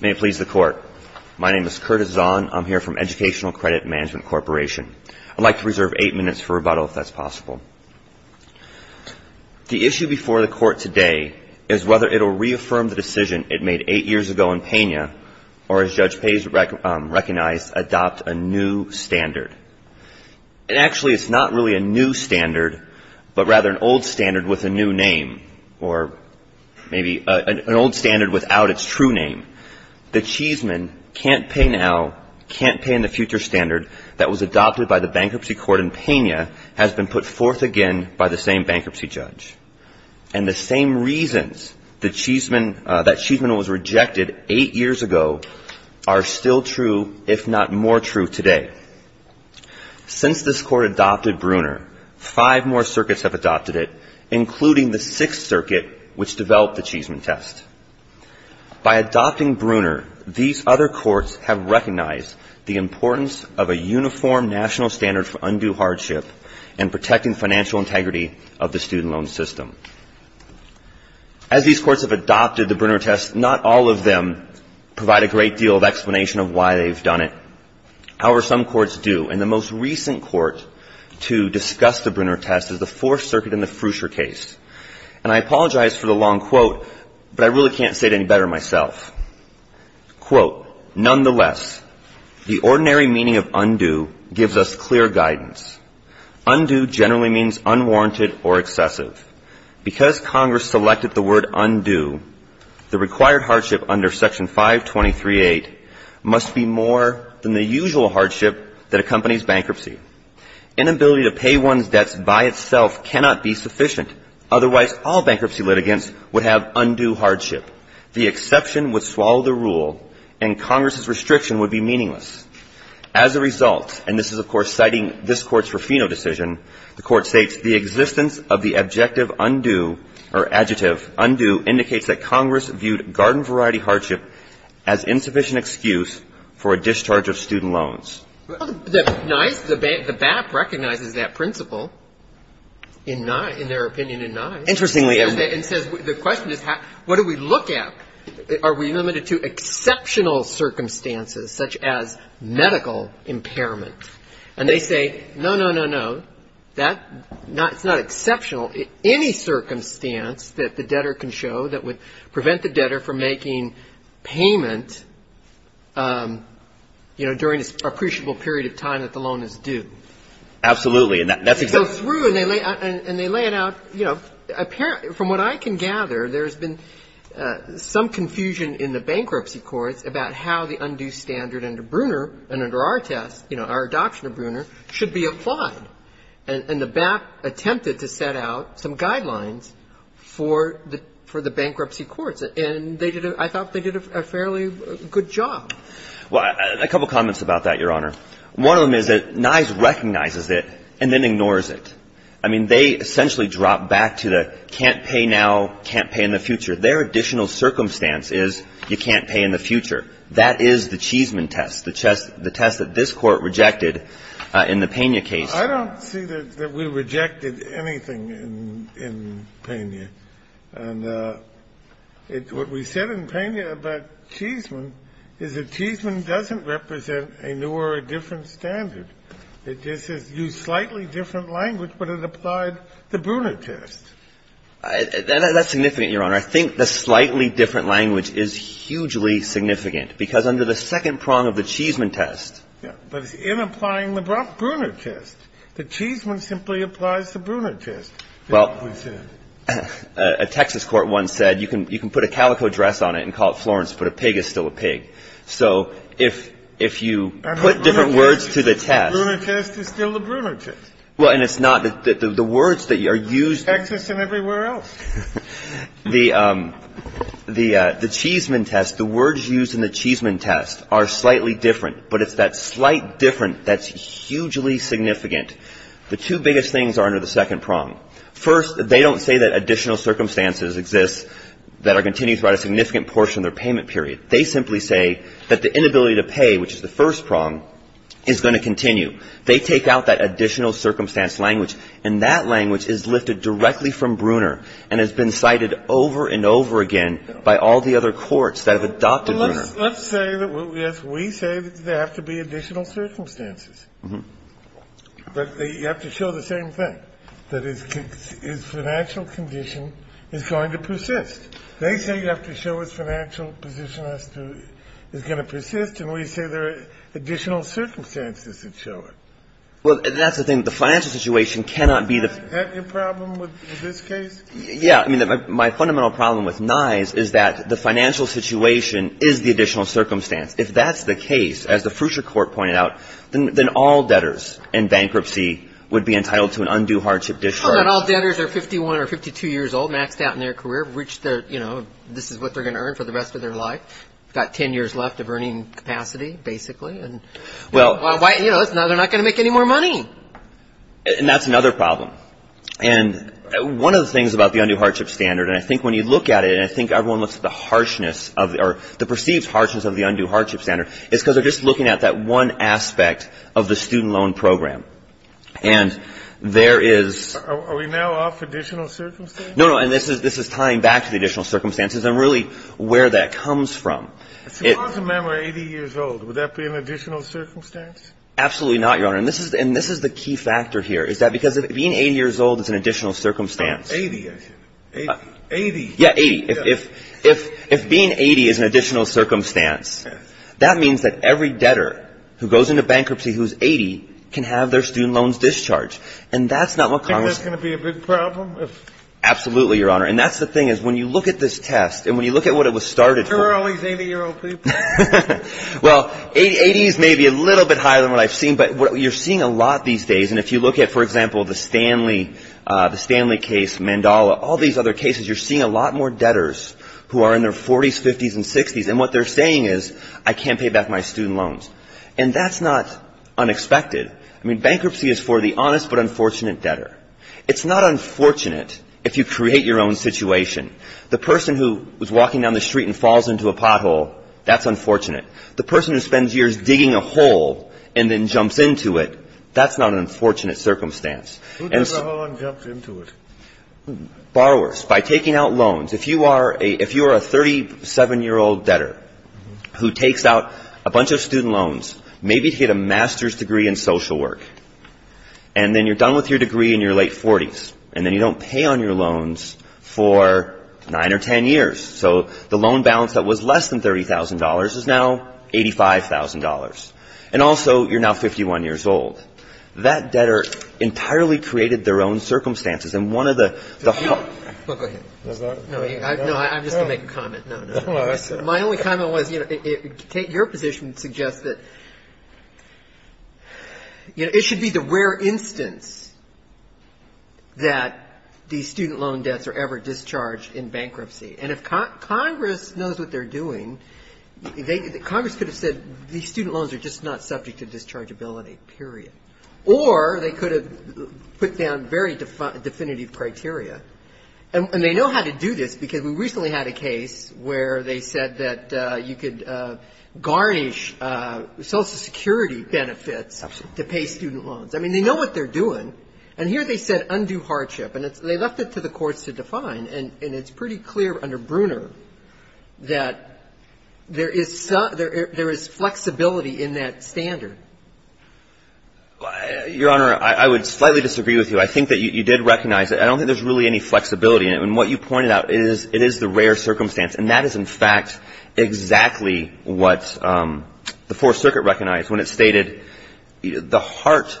May it please the Court, my name is Curtis Zahn, I'm here from Educational Credit Management Corporation. I'd like to reserve eight minutes for rebuttal if that's possible. The issue before the Court today is whether it will reaffirm the decision it made eight years ago in Pena or, as Judge Page recognized, adopt a new standard. And actually it's not really a new standard, but rather an old standard with a new name or maybe an old standard without its true name. The Cheeseman can't pay now, can't pay in the future standard that was adopted by the bankruptcy court in Pena has been put forth again by the same bankruptcy judge. And the same reasons that Cheeseman was rejected eight years ago are still true, if not more true today. Since this Court adopted Brunner, five more circuits have adopted it, including the Sixth Circuit, which developed the Cheeseman test. By adopting Brunner, these other courts have recognized the importance of a uniform national standard for undue hardship and protecting financial integrity of the student loan system. As these courts have adopted the Brunner test, not all of them provide a great deal of explanation of why they've done it. However, some courts do. And the most recent court to discuss the Brunner test is the Fourth Circuit in the Fruscher case. And I apologize for the long quote, but I really can't say it any better myself. Quote, nonetheless, the ordinary meaning of undue gives us clear guidance. Undue generally means unwarranted or excessive. Because Congress selected the word undue, the required hardship under Section 523.8 must be more than the usual hardship that accompanies bankruptcy. Inability to pay one's debts by itself cannot be sufficient. Otherwise, all bankruptcy litigants would have undue hardship. The exception would swallow the rule, and Congress's restriction would be meaningless. As a result, and this is, of course, citing this Court's Ruffino decision, the Court states, the existence of the adjective undue indicates that Congress viewed garden-variety hardship as insufficient excuse for a discharge of student loans. The BAP recognizes that principle in their opinion in Nye's. Interestingly enough. And says, the question is, what do we look at? Are we limited to exceptional circumstances, such as medical impairment? And they say, no, no, no, no. That's not exceptional. Any circumstance that the debtor can show that would prevent the debtor from making payment, you know, during this appreciable period of time that the loan is due. Absolutely. And that's exactly. They go through and they lay it out, you know. From what I can gather, there's been some confusion in the bankruptcy courts about how the undue standard under Bruner and under our test, you know, our adoption of Bruner, should be applied. And the BAP attempted to set out some guidelines for the bankruptcy courts. And they did a – I thought they did a fairly good job. Well, a couple comments about that, Your Honor. One of them is that Nye's recognizes it and then ignores it. I mean, they essentially drop back to the can't pay now, can't pay in the future. Their additional circumstance is you can't pay in the future. That is the Cheeseman test, the test that this Court rejected in the Pena case. I don't see that we rejected anything in Pena. And what we said in Pena about Cheeseman is that Cheeseman doesn't represent a new or a different standard. It just used slightly different language, but it applied the Bruner test. That's significant, Your Honor. I think the slightly different language is hugely significant because under the second prong of the Cheeseman test. But it's in applying the Bruner test. The Cheeseman simply applies the Bruner test. Well, a Texas court once said you can put a calico dress on it and call it Florence, but a pig is still a pig. So if you put different words to the test. Bruner test is still the Bruner test. Well, and it's not. The words that are used. Texas and everywhere else. The Cheeseman test, the words used in the Cheeseman test are slightly different, but it's that slight different that's hugely significant. The two biggest things are under the second prong. First, they don't say that additional circumstances exist that are continued throughout a significant portion of their payment period. They simply say that the inability to pay, which is the first prong, is going to continue. They take out that additional circumstance language, and that language is lifted directly from Bruner and has been cited over and over again by all the other courts that have adopted Bruner. Let's say that, yes, we say that there have to be additional circumstances. Mm-hmm. But you have to show the same thing, that his financial condition is going to persist. They say you have to show his financial position is going to persist, and we say there are additional circumstances that show it. Well, that's the thing. Have you a problem with this case? Yeah. I mean, my fundamental problem with Nye's is that the financial situation is the additional circumstance. If that's the case, as the Fruchter Court pointed out, then all debtors in bankruptcy would be entitled to an undue hardship discharge. How about all debtors that are 51 or 52 years old, maxed out in their career, have reached their, you know, this is what they're going to earn for the rest of their life, got 10 years left of earning capacity, basically, and, you know, now they're not going to make any more money. And that's another problem. And one of the things about the undue hardship standard, and I think when you look at it, and I think everyone looks at the perceived harshness of the undue hardship standard, is because they're just looking at that one aspect of the student loan program. And there is – Are we now off additional circumstances? No, no, and this is tying back to the additional circumstances and really where that comes from. Suppose a man were 80 years old. Would that be an additional circumstance? Absolutely not, Your Honor. And this is the key factor here, is that because being 80 years old is an additional circumstance. 80, I should. 80. Yeah, 80. If being 80 is an additional circumstance, that means that every debtor who goes into bankruptcy who's 80 can have their student loans discharged. And that's not what Congress – Do you think that's going to be a big problem? Absolutely, Your Honor. And that's the thing, is when you look at this test and when you look at what it was Well, 80s may be a little bit higher than what I've seen, but you're seeing a lot these days. And if you look at, for example, the Stanley case, Mandala, all these other cases, you're seeing a lot more debtors who are in their 40s, 50s, and 60s. And what they're saying is, I can't pay back my student loans. And that's not unexpected. I mean, bankruptcy is for the honest but unfortunate debtor. It's not unfortunate if you create your own situation. The person who is walking down the street and falls into a pothole, that's unfortunate. The person who spends years digging a hole and then jumps into it, that's not an unfortunate circumstance. Who digs a hole and jumps into it? Borrowers. By taking out loans. If you are a 37-year-old debtor who takes out a bunch of student loans, maybe to get a master's degree in social work, and then you're done with your degree and you're late 40s, and then you don't pay on your loans for 9 or 10 years. So the loan balance that was less than $30,000 is now $85,000. And also, you're now 51 years old. That debtor entirely created their own circumstances. And one of the – No. Go ahead. No, I'm just going to make a comment. No, no. My only comment was, you know, take your position and suggest that, you know, it should be the rare instance that these student loan debts are ever discharged in bankruptcy. And if Congress knows what they're doing, Congress could have said these student loans are just not subject to dischargeability, period. Or they could have put down very definitive criteria. And they know how to do this because we recently had a case where they said that you could garnish Social Security benefits to pay student loans. Absolutely. I mean, they know what they're doing. And here they said undue hardship. And they left it to the courts to define. And it's pretty clear under Bruner that there is flexibility in that standard. Your Honor, I would slightly disagree with you. I think that you did recognize it. I don't think there's really any flexibility in it. And what you pointed out is it is the rare circumstance. And that is, in fact, exactly what the Fourth Circuit recognized when it stated the heart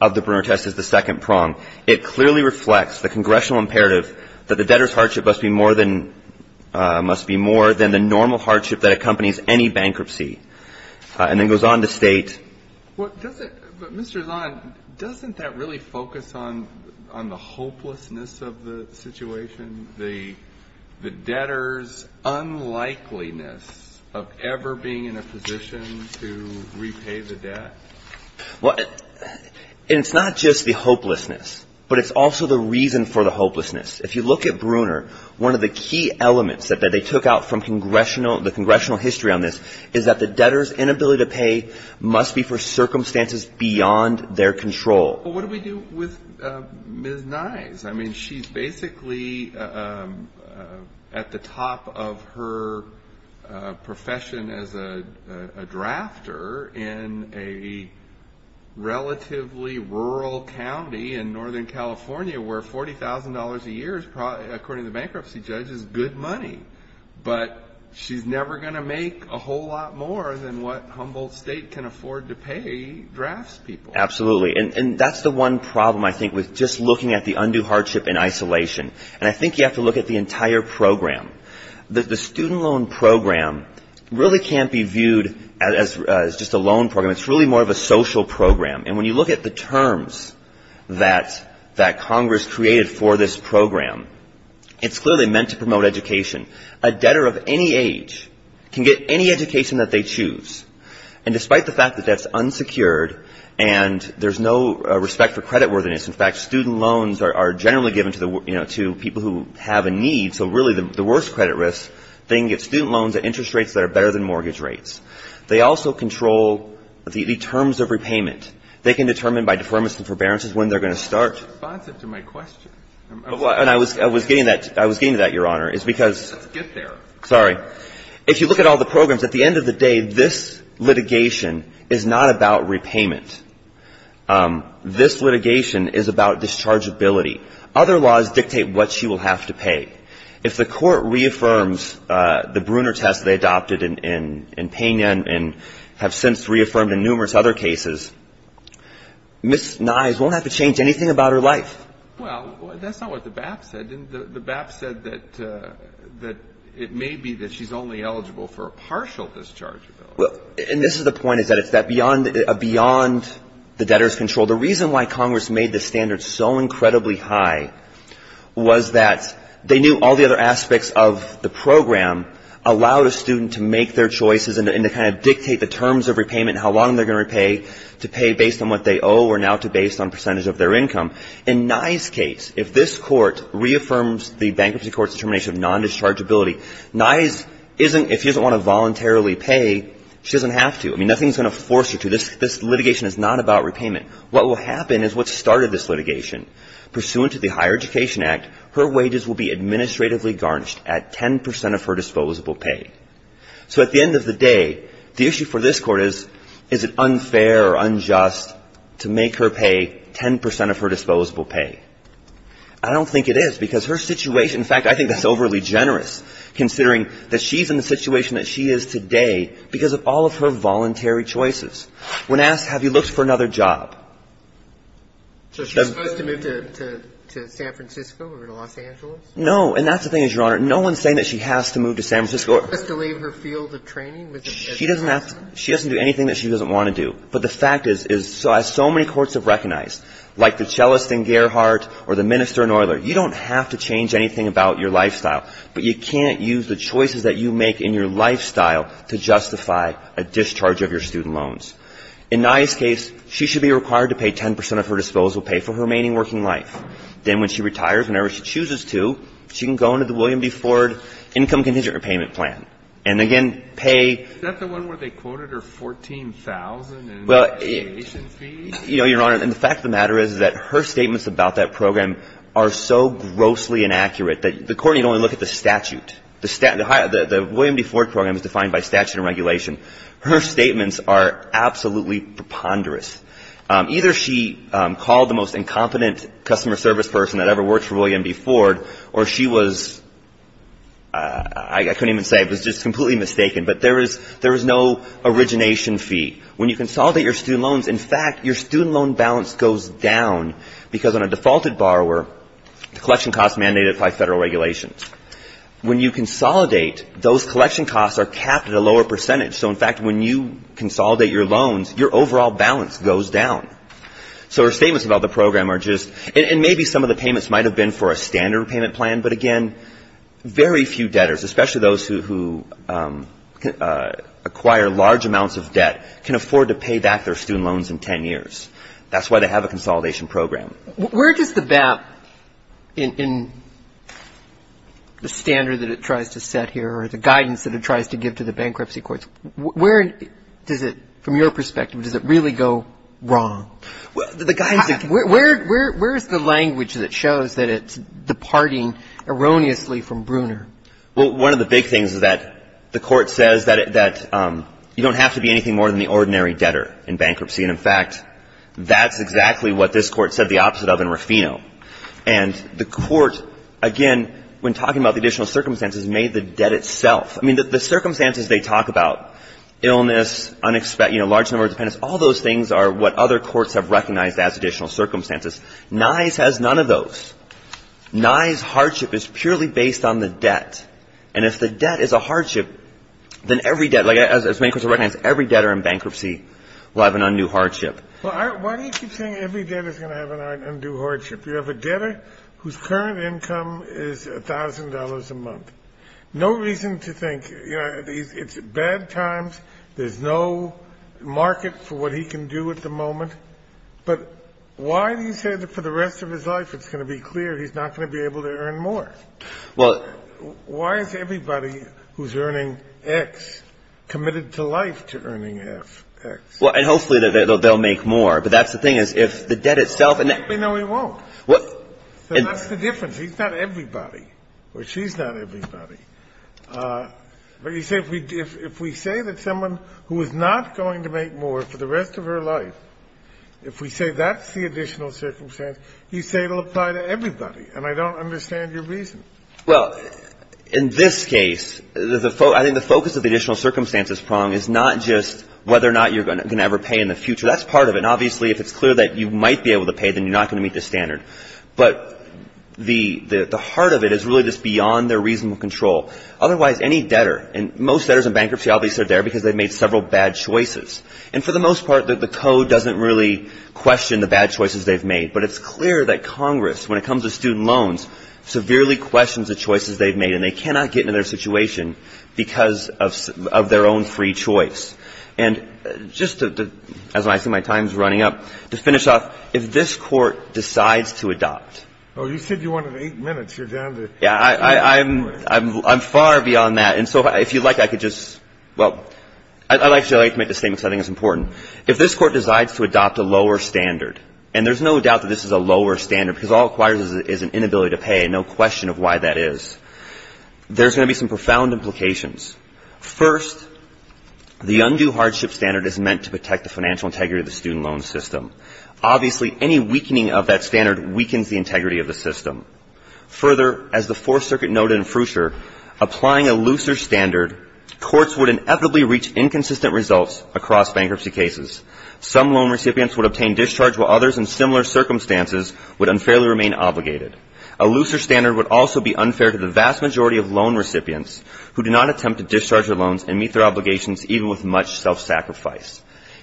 of the Bruner test is the second prong. It clearly reflects the congressional imperative that the debtor's hardship must be more than the normal hardship that accompanies any bankruptcy. And then it goes on to state. But, Mr. Zahn, doesn't that really focus on the hopelessness of the situation, the debtor's unlikeliness of ever being in a position to repay the debt? Well, it's not just the hopelessness, but it's also the reason for the hopelessness. If you look at Bruner, one of the key elements that they took out from the congressional history on this is that the debtor's inability to pay must be for circumstances beyond their control. Well, what do we do with Ms. Nyes? I mean, she's basically at the top of her profession as a drafter in a relatively rural county in Northern California where $40,000 a year is, according to the bankruptcy judge, is good money. But she's never going to make a whole lot more than what Humboldt State can afford to pay draftspeople. Absolutely. And that's the one problem, I think, with just looking at the undue hardship in isolation. And I think you have to look at the entire program. The student loan program really can't be viewed as just a loan program. It's really more of a social program. And when you look at the terms that Congress created for this program, it's clearly meant to promote education. A debtor of any age can get any education that they choose. And despite the fact that that's unsecured and there's no respect for creditworthiness, in fact, student loans are generally given to the, you know, to people who have a need. So really the worst credit risk, they can get student loans at interest rates that are better than mortgage rates. They also control the terms of repayment. They can determine by deferments and forbearances when they're going to start. That's responsive to my question. And I was getting to that, Your Honor, is because — Let's get there. Sorry. If you look at all the programs, at the end of the day, this litigation is not about repayment. This litigation is about dischargeability. Other laws dictate what she will have to pay. If the court reaffirms the Bruner test they adopted in Pena and have since reaffirmed in numerous other cases, Ms. Nyes won't have to change anything about her life. Well, that's not what the BAP said. The BAP said that it may be that she's only eligible for a partial discharge. And this is the point, is that it's beyond the debtor's control. The reason why Congress made this standard so incredibly high was that they knew all the other aspects of the program allowed a student to make their choices and to kind of dictate the terms of repayment, how long they're going to pay to pay based on what they owe or now to based on percentage of their income. In Nyes' case, if this court reaffirms the bankruptcy court's determination of nondischargeability, Nyes isn't – if she doesn't want to voluntarily pay, she doesn't have to. I mean, nothing's going to force her to. This litigation is not about repayment. What will happen is what started this litigation. Pursuant to the Higher Education Act, her wages will be administratively garnished at 10 percent of her disposable pay. So at the end of the day, the issue for this Court is, is it unfair or unjust to make her pay 10 percent of her disposable pay? I don't think it is, because her situation – in fact, I think that's overly generous, considering that she's in the situation that she is today because of all of her voluntary choices. When asked, have you looked for another job? So she's supposed to move to San Francisco or to Los Angeles? No. And that's the thing, Your Honor. No one's saying that she has to move to San Francisco. Just to leave her field of training? She doesn't have to – she doesn't do anything that she doesn't want to do. But the fact is, as so many courts have recognized, like the cellist in Gerhardt or the minister in Euler, you don't have to change anything about your lifestyle, but you can't use the choices that you make in your lifestyle to justify a discharge of your student loans. In Nyes' case, she should be required to pay 10 percent of her disposable pay for her remaining working life. Then when she retires, whenever she chooses to, she can go into the William B. Ford Income Contingent Repayment Plan and, again, pay – Is that the one where they quoted her $14,000 in a regulation fee? You know, Your Honor, and the fact of the matter is that her statements about that program are so grossly inaccurate that the court need only look at the statute. The William B. Ford program is defined by statute and regulation. Her statements are absolutely preponderous. Either she called the most incompetent customer service person that ever worked for William B. Ford, or she was – I couldn't even say. It was just completely mistaken. But there is no origination fee. When you consolidate your student loans, in fact, your student loan balance goes down because on a defaulted borrower, the collection costs are mandated by federal regulations. When you consolidate, those collection costs are capped at a lower percentage. So, in fact, when you consolidate your loans, your overall balance goes down. So her statements about the program are just – and maybe some of the payments might have been for a standard repayment plan, but, again, very few debtors, especially those who acquire large amounts of debt, can afford to pay back their student loans in 10 years. That's why they have a consolidation program. Where does the BAP in the standard that it tries to set here or the guidance that it tries to give to the bankruptcy courts, where does it – from your perspective, does it really go wrong? Where is the language that shows that it's departing erroneously from Bruner? Well, one of the big things is that the Court says that you don't have to be anything more than the ordinary debtor in bankruptcy, and, in fact, that's exactly what this Court said the opposite of in Ruffino. And the Court, again, when talking about the additional circumstances, made the debt itself. I mean, the circumstances they talk about, illness, unexpected – you know, large number of dependents, all those things are what other courts have recognized as additional circumstances. Nye's has none of those. Nye's hardship is purely based on the debt. And if the debt is a hardship, then every debt – like, as many courts have recognized, every debtor in bankruptcy will have an undue hardship. Well, why do you keep saying every debtor is going to have an undue hardship? You have a debtor whose current income is $1,000 a month. No reason to think – you know, it's bad times. There's no market for what he can do at the moment. But why do you say that for the rest of his life it's going to be clear he's not going to be able to earn more? Why is everybody who's earning X committed to life to earning half X? Well, and hopefully they'll make more. But that's the thing, is if the debt itself – No, he won't. So that's the difference. He's not everybody, or she's not everybody. But you say if we say that someone who is not going to make more for the rest of her life, if we say that's the additional circumstance, you say it'll apply to everybody. And I don't understand your reason. Well, in this case, I think the focus of the additional circumstances prong is not just whether or not you're going to ever pay in the future. That's part of it. And obviously, if it's clear that you might be able to pay, then you're not going to meet the standard. But the heart of it is really just beyond their reasonable control. Otherwise, any debtor – and most debtors in bankruptcy obviously are there because they've made several bad choices. And for the most part, the code doesn't really question the bad choices they've made. But it's clear that Congress, when it comes to student loans, severely questions the choices they've made, and they cannot get into their situation because of their own free choice. And just to – as I see my time's running up, to finish off, if this Court decides to adopt – Oh, you said you wanted eight minutes. You're down to – Yeah, I'm far beyond that. And so if you'd like, I could just – well, I'd like to make this statement because I think it's important. If this Court decides to adopt a lower standard, and there's no doubt that this is a lower standard because all it requires is an inability to pay and no question of why that is, there's going to be some profound implications. First, the undue hardship standard is meant to protect the financial integrity of the student loan system. Obviously, any weakening of that standard weakens the integrity of the system. Further, as the Fourth Circuit noted in Frewsher, applying a looser standard, courts would inevitably reach inconsistent results across bankruptcy cases. Some loan recipients would obtain discharge, while others in similar circumstances would unfairly remain obligated. A looser standard would also be unfair to the vast majority of loan recipients who do not attempt to discharge their loans and meet their obligations even with much self-sacrifice.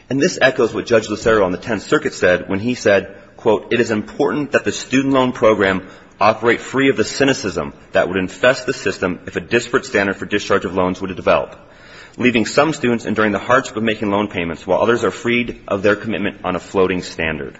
And this echoes what Judge Lucero on the Tenth Circuit said when he said, quote, it is important that the student loan program operate free of the cynicism that would infest the system if a disparate standard for discharge of loans were to develop, leaving some students enduring the hardship of making loan payments while others are freed of their commitment on a floating standard.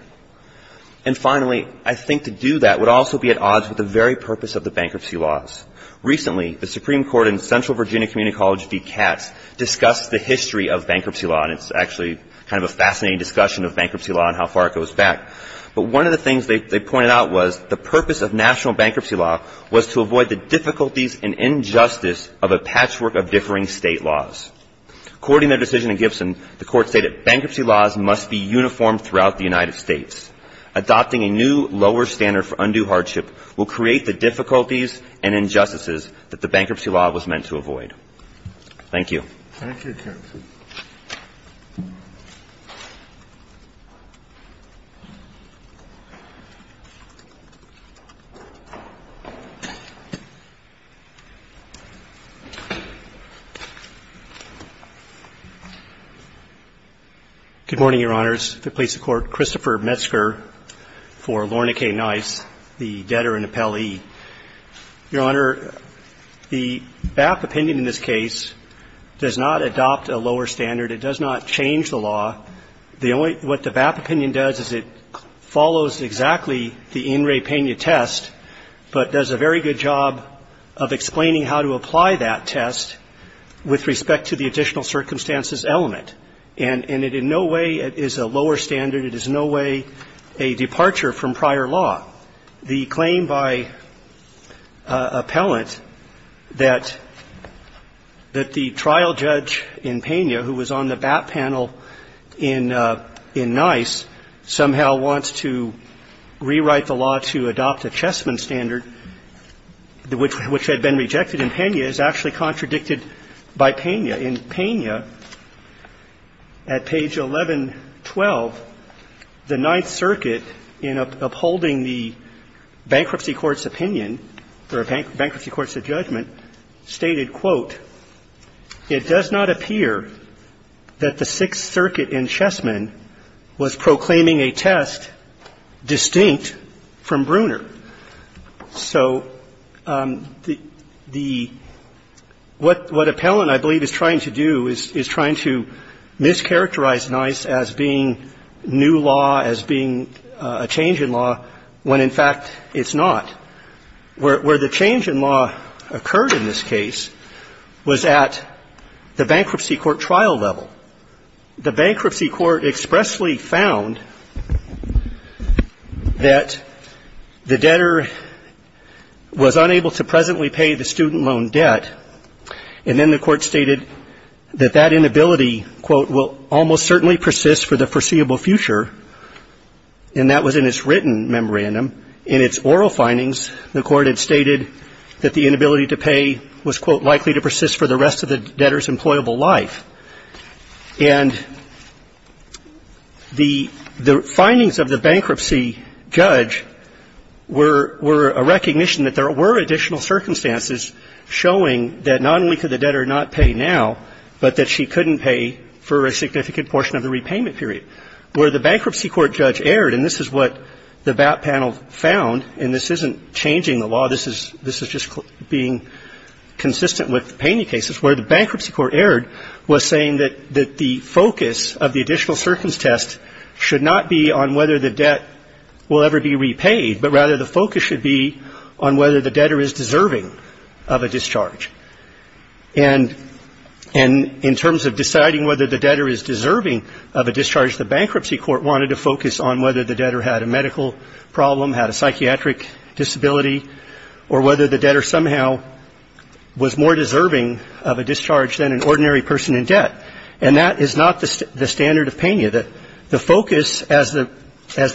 And finally, I think to do that would also be at odds with the very purpose of the bankruptcy laws. Recently, the Supreme Court in Central Virginia Community College v. Katz discussed the history of bankruptcy law, and it's actually kind of a fascinating discussion of bankruptcy law and how far it goes back. But one of the things they pointed out was the purpose of national bankruptcy law was to avoid the difficulties and injustice of a patchwork of differing state laws. According to their decision in Gibson, the Court stated, bankruptcy laws must be uniform throughout the United States. Adopting a new lower standard for undue hardship will create the difficulties and injustices that the bankruptcy law was meant to avoid. Thank you. Thank you, counsel. Good morning, Your Honors. The place of court, Christopher Metzger for Lorna K. Nice, the debtor and appellee. Your Honor, the BAP opinion in this case does not adopt a lower standard. It does not change the law. The only – what the BAP opinion does is it follows exactly the in re pena test, but does a very good job of explaining how to apply that test with respect to the additional circumstances element. And it in no way is a lower standard. It is in no way a departure from prior law. The claim by appellant that the trial judge in Pena, who was on the BAP panel in Nice, somehow wants to rewrite the law to adopt a Chessman standard, which had been rejected in Pena, is actually contradicted by Pena. In Pena, at page 1112, the Ninth Circuit, in upholding the bankruptcy court's opinion or bankruptcy court's judgment, stated, quote, it does not appear that the Sixth Circuit in Chessman was proclaiming a test distinct from Bruner. So the – what appellant, I believe, is trying to do is trying to mischaracterize Nice as being new law, as being a change in law, when, in fact, it's not. Where the change in law occurred in this case was at the bankruptcy court trial level. The bankruptcy court expressly found that the debtor was unable to presently pay the student loan debt, and then the court stated that that inability, quote, will almost certainly persist for the foreseeable future, and that was in its written memorandum. In its oral findings, the court had stated that the inability to pay was, quote, likely to persist for the rest of the debtor's employable life. And the findings of the bankruptcy judge were a recognition that there were additional circumstances showing that not only could the debtor not pay now, but that she couldn't pay for a significant portion of the repayment period. Where the bankruptcy court judge erred, and this is what the BAP panel found, and this is just being consistent with the Paney cases, where the bankruptcy court erred was saying that the focus of the additional circumstance test should not be on whether the debt will ever be repaid, but rather the focus should be on whether the debtor is deserving of a discharge. And in terms of deciding whether the debtor is deserving of a discharge, the bankruptcy court wanted to focus on whether the debtor had a medical problem, had a psychiatric disability, or whether the debtor somehow was more deserving of a discharge than an ordinary person in debt, and that is not the standard of Paney. The focus, as the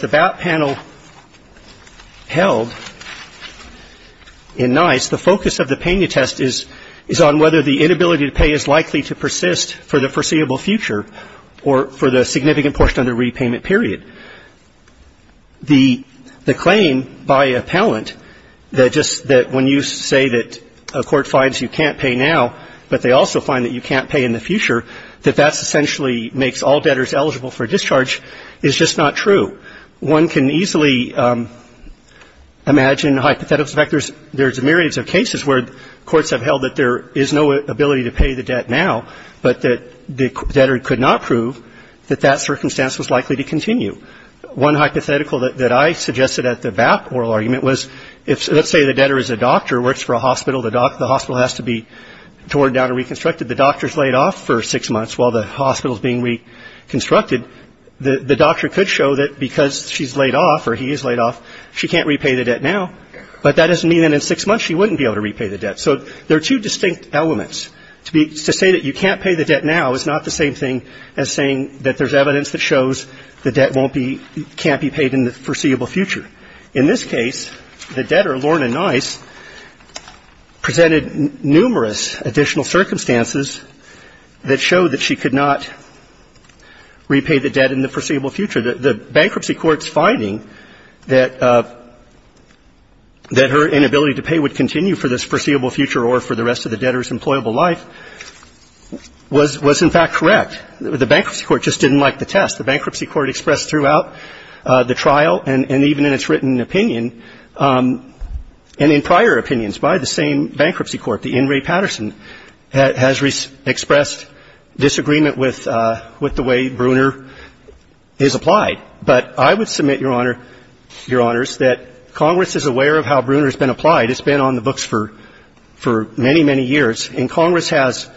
BAP panel held in Nice, the focus of the Paney test is on whether the inability to pay is likely to persist for the foreseeable future or for the significant portion of the repayment period. The claim by appellant that just that when you say that a court finds you can't pay now, but they also find that you can't pay in the future, that that's essentially makes all debtors eligible for discharge is just not true. One can easily imagine hypotheticals. In fact, there's a myriad of cases where courts have held that there is no ability to pay the debt now, but that the debtor could not prove that that circumstance was likely to continue. One hypothetical that I suggested at the BAP oral argument was if, let's say the debtor is a doctor, works for a hospital, the hospital has to be torn down and reconstructed, the doctor is laid off for six months while the hospital is being reconstructed, and the doctor could show that because she's laid off or he is laid off, she can't repay the debt now, but that doesn't mean that in six months she wouldn't be able to repay the debt. So there are two distinct elements. To say that you can't pay the debt now is not the same thing as saying that there's evidence that shows the debt won't be, can't be paid in the foreseeable future. In this case, the debtor, Lorna Nice, presented numerous additional circumstances that show that she could not repay the debt in the foreseeable future. The bankruptcy court's finding that her inability to pay would continue for this foreseeable future or for the rest of the debtor's employable life was in fact correct. The bankruptcy court just didn't like the test. The bankruptcy court expressed throughout the trial and even in its written opinion and in prior opinions by the same bankruptcy court, the In re Patterson, has expressed disagreement with the way Bruner is applied. But I would submit, Your Honor, Your Honors, that Congress is aware of how Bruner has been applied. It's been on the books for many, many years, and Congress has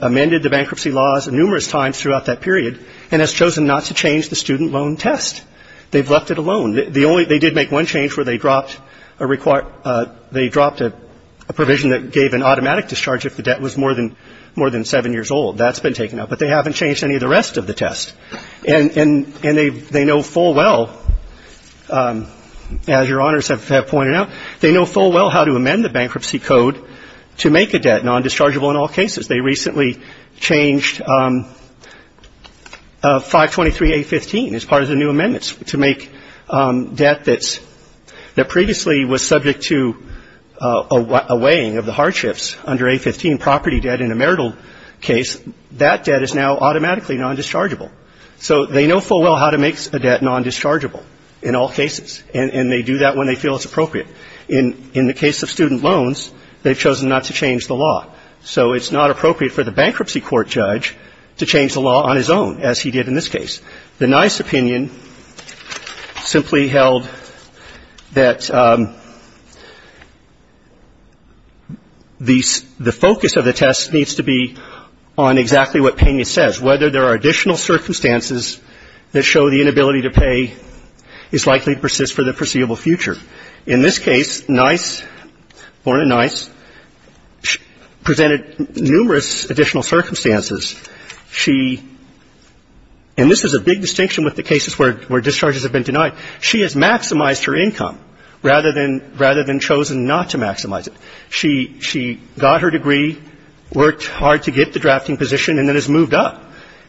amended the bankruptcy laws numerous times throughout that period and has chosen not to change the student loan test. They've left it alone. They did make one change where they dropped a provision that gave an automatic discharge if the debt was more than seven years old. That's been taken out. But they haven't changed any of the rest of the test. And they know full well, as Your Honors have pointed out, they know full well how to amend the bankruptcy code to make a debt non-dischargeable in all cases. They recently changed 523A15 as part of the new amendments to make debt that previously was subject to a weighing of the hardships under A15, property debt in a marital case. That debt is now automatically non-dischargeable. So they know full well how to make a debt non-dischargeable in all cases, and they do that when they feel it's appropriate. In the case of student loans, they've chosen not to change the law. So it's not appropriate for the bankruptcy court judge to change the law on his own, as he did in this case. The Nice opinion simply held that the focus of the test needs to be on exactly what Pena says, whether there are additional circumstances that show the inability to pay is likely to persist for the foreseeable future. In this case, Nice, Lorna Nice, presented numerous additional circumstances. She – and this is a big distinction with the cases where discharges have been denied. She has maximized her income rather than chosen not to maximize it. She got her degree, worked hard to get the drafting position, and then has moved up.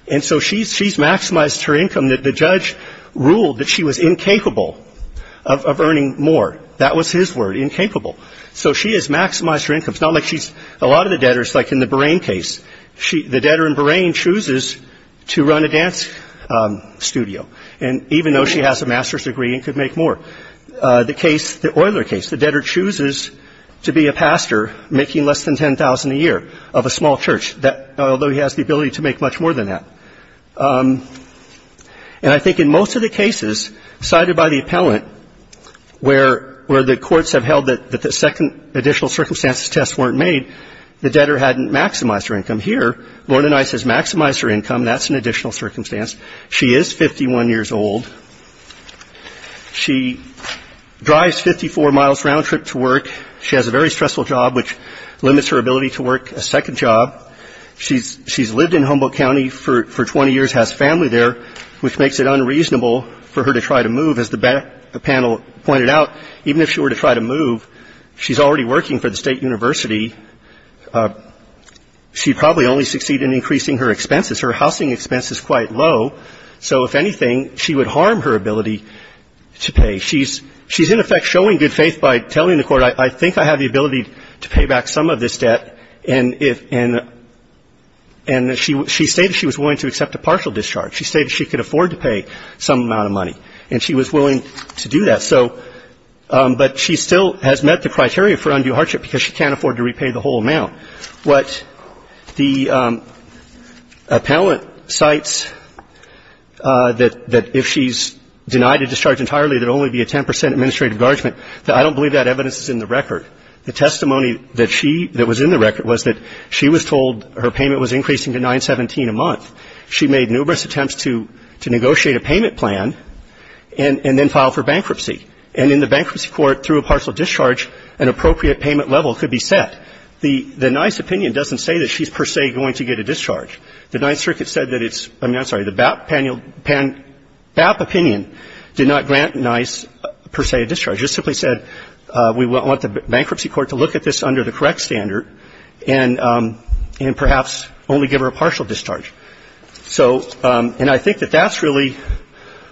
And so she's maximized her income that the judge ruled that she was incapable of earning more. That was his word, incapable. So she has maximized her income. It's not like she's – a lot of the debtors, like in the Borain case, the debtor in Borain chooses to run a dance studio, even though she has a master's degree and could make more. The case – the Euler case, the debtor chooses to be a pastor, making less than $10,000 a year of a small church, although he has the ability to make much more than that. And I think in most of the cases cited by the appellant where the courts have held that the second additional circumstances test weren't made, the debtor hadn't maximized her income. Here, Lorna Nice has maximized her income. That's an additional circumstance. She is 51 years old. She drives 54 miles round trip to work. She has a very stressful job, which limits her ability to work a second job. She's lived in Humboldt County for 20 years, has family there, which makes it unreasonable for her to try to move. As the panel pointed out, even if she were to try to move, she's already working for the state university. She'd probably only succeed in increasing her expenses. Her housing expense is quite low. So if anything, she would harm her ability to pay. She's in effect showing good faith by telling the court, I think I have the ability to pay back some of this debt, and she stated she was willing to accept a partial discharge. She stated she could afford to pay some amount of money, and she was willing to do that. But she still has met the criteria for undue hardship, because she can't afford to repay the whole amount. What the appellant cites, that if she's denied a discharge entirely, there would only be a 10 percent administrative guardsman, I don't believe that evidence is in the record. The testimony that she – that was in the record was that she was told her payment was increasing to 917 a month. She made numerous attempts to negotiate a payment plan and then file for bankruptcy. And in the bankruptcy court, through a partial discharge, an appropriate payment level could be set. The NICE opinion doesn't say that she's per se going to get a discharge. The Ninth Circuit said that it's – I'm sorry, the BAP opinion did not grant NICE per se a discharge. It simply said we want the bankruptcy court to look at this under the correct standard and perhaps only give her a partial discharge. So – and I think that that's really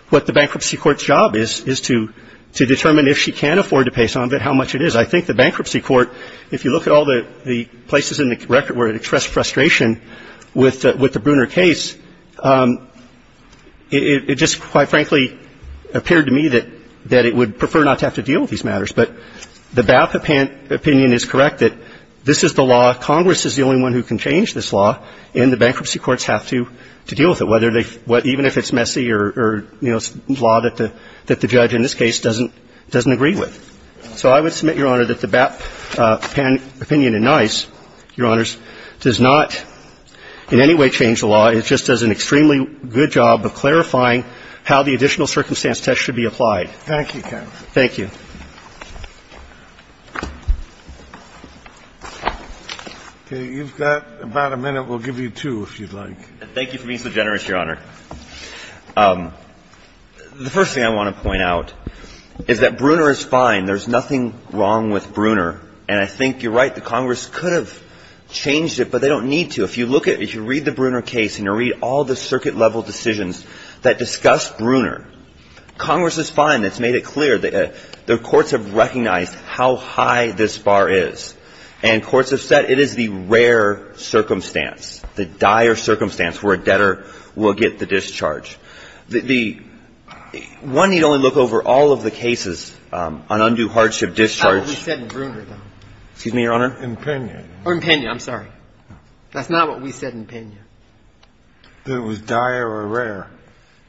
what the bankruptcy court's job is, is to determine if she can afford to pay some of it, how much it is. I think the bankruptcy court, if you look at all the places in the record where it expressed frustration with the Bruner case, it just, quite frankly, appeared to me that it would prefer not to have to deal with these matters. But the BAP opinion is correct that this is the law. Congress is the only one who can change this law, and the bankruptcy courts have to deal with it, whether they – even if it's messy or, you know, law that the judge in this case doesn't agree with. So I would submit, Your Honor, that the BAP opinion in NICE, Your Honors, does not in any way change the law. It just does an extremely good job of clarifying how the additional circumstance test should be applied. Thank you, counsel. Thank you. Okay. You've got about a minute. We'll give you two, if you'd like. Thank you for being so generous, Your Honor. The first thing I want to point out is that Bruner is fine. There's nothing wrong with Bruner. And I think you're right. The Congress could have changed it, but they don't need to. If you look at – if you read the Bruner case and you read all the circuit-level decisions that discuss Bruner, Congress is fine. It's made it clear. The courts have recognized how high this bar is, and courts have said it is the rare circumstance, the dire circumstance where a debtor will get the discharge. The – one need only look over all of the cases on undue hardship discharge. That's what we said in Bruner, though. Excuse me, Your Honor? In Pena. Or in Pena, I'm sorry. That's not what we said in Pena. It was dire or rare.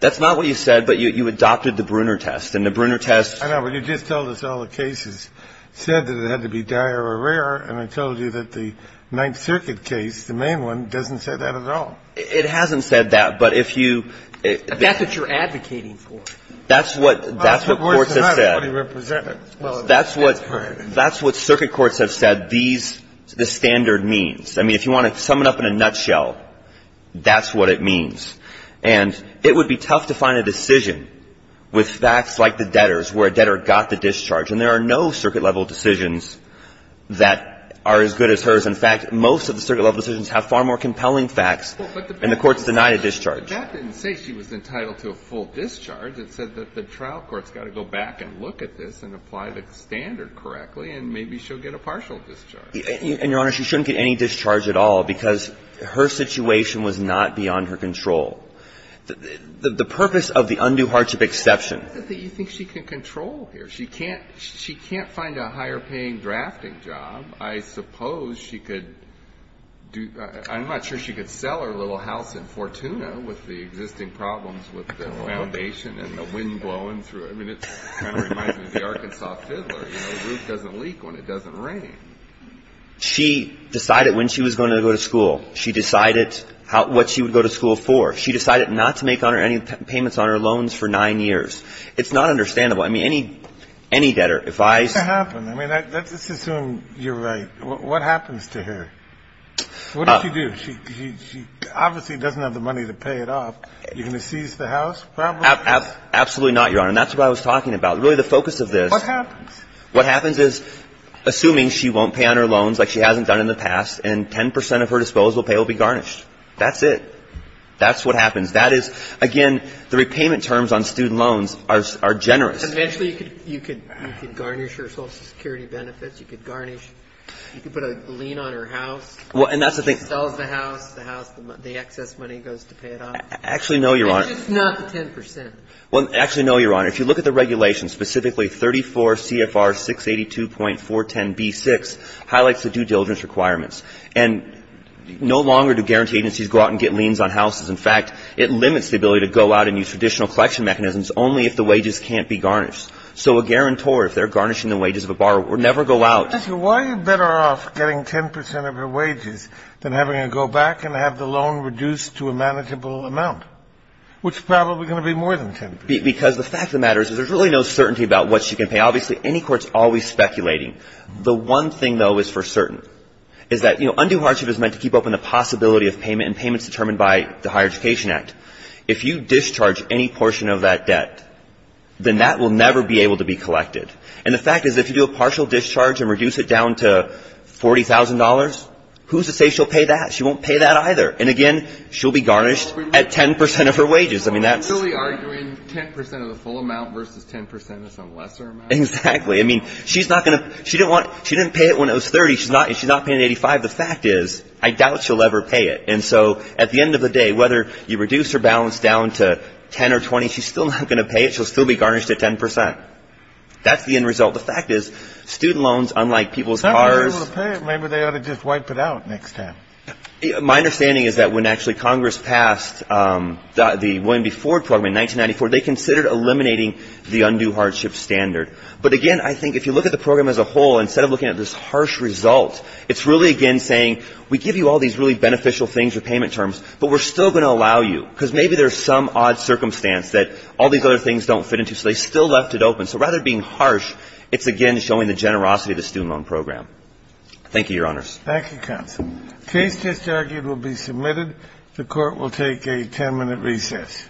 That's not what you said, but you adopted the Bruner test. And the Bruner test – I know, but you just told us all the cases said that it had to be dire or rare, and I told you that the Ninth Circuit case, the main one, doesn't say that at all. It hasn't said that, but if you – That's what you're advocating for. That's what courts have said. Well, of course, it's not what he represented. That's what – that's what circuit courts have said these – this standard means. I mean, if you want to sum it up in a nutshell, that's what it means. And it would be tough to find a decision with facts like the debtors where a debtor got the discharge. And there are no circuit-level decisions that are as good as hers. In fact, most of the circuit-level decisions have far more compelling facts, and the Court's denied a discharge. But that didn't say she was entitled to a full discharge. It said that the trial court's got to go back and look at this and apply the standard correctly, and maybe she'll get a partial discharge. And, Your Honor, she shouldn't get any discharge at all because her situation was not beyond her control. The purpose of the undue hardship exception – I don't think she can control here. She can't – she can't find a higher-paying drafting job. I suppose she could do – I'm not sure she could sell her little house in Fortuna with the existing problems with the foundation and the wind blowing through it. I mean, it kind of reminds me of the Arkansas fiddler. You know, the roof doesn't leak when it doesn't rain. She decided when she was going to go to school. She decided what she would go to school for. She decided not to make any payments on her loans for nine years. It's not understandable. I mean, any debtor, if I – What's going to happen? I mean, let's assume you're right. What happens to her? What does she do? She obviously doesn't have the money to pay it off. Are you going to seize the house, probably? Absolutely not, Your Honor. And that's what I was talking about. Really, the focus of this – What happens? What happens is, assuming she won't pay on her loans like she hasn't done in the past and 10 percent of her disposal pay will be garnished. That's it. That's what happens. That is, again, the repayment terms on student loans are generous. Eventually, you could garnish her Social Security benefits. You could garnish – you could put a lien on her house. Well, and that's the thing – She sells the house. The house – the excess money goes to pay it off. Actually, no, Your Honor. It's just not the 10 percent. Well, actually, no, Your Honor. If you look at the regulations, specifically 34 CFR 682.410b-6 highlights the due diligence requirements. And no longer do guarantee agencies go out and get liens on houses. In fact, it limits the ability to go out and use traditional collection mechanisms only if the wages can't be garnished. So a guarantor, if they're garnishing the wages of a borrower, would never go out – Why are you better off getting 10 percent of her wages than having her go back and have the loan reduced to a manageable amount, which is probably going to be more than 10 percent? Because the fact of the matter is there's really no certainty about what she can pay. Obviously, any court's always speculating. The one thing, though, is for certain, is that undue hardship is meant to keep open the possibility of payment and payment's determined by the Higher Education Act. If you discharge any portion of that debt, then that will never be able to be collected. And the fact is if you do a partial discharge and reduce it down to $40,000, who's to say she'll pay that? She won't pay that either. And again, she'll be garnished at 10 percent of her wages. So you're really arguing 10 percent of the full amount versus 10 percent of some lesser amount? Exactly. I mean, she's not going to – she didn't pay it when it was 30. She's not paying 85. The fact is I doubt she'll ever pay it. And so at the end of the day, whether you reduce her balance down to 10 or 20, she's still not going to pay it. She'll still be garnished at 10 percent. That's the end result. The fact is student loans, unlike people's cars – Some people will pay it. Maybe they ought to just wipe it out next time. My understanding is that when actually Congress passed the William B. Ford program in 1994, they considered eliminating the undue hardship standard. But again, I think if you look at the program as a whole, instead of looking at this harsh result, it's really, again, saying we give you all these really beneficial things, repayment terms, but we're still going to allow you because maybe there's some odd circumstance that all these other things don't fit into. So they still left it open. So rather than being harsh, it's, again, showing the generosity of the student loan program. Thank you, Your Honors. Thank you, counsel. Case just argued will be submitted. The Court will take a 10-minute recess.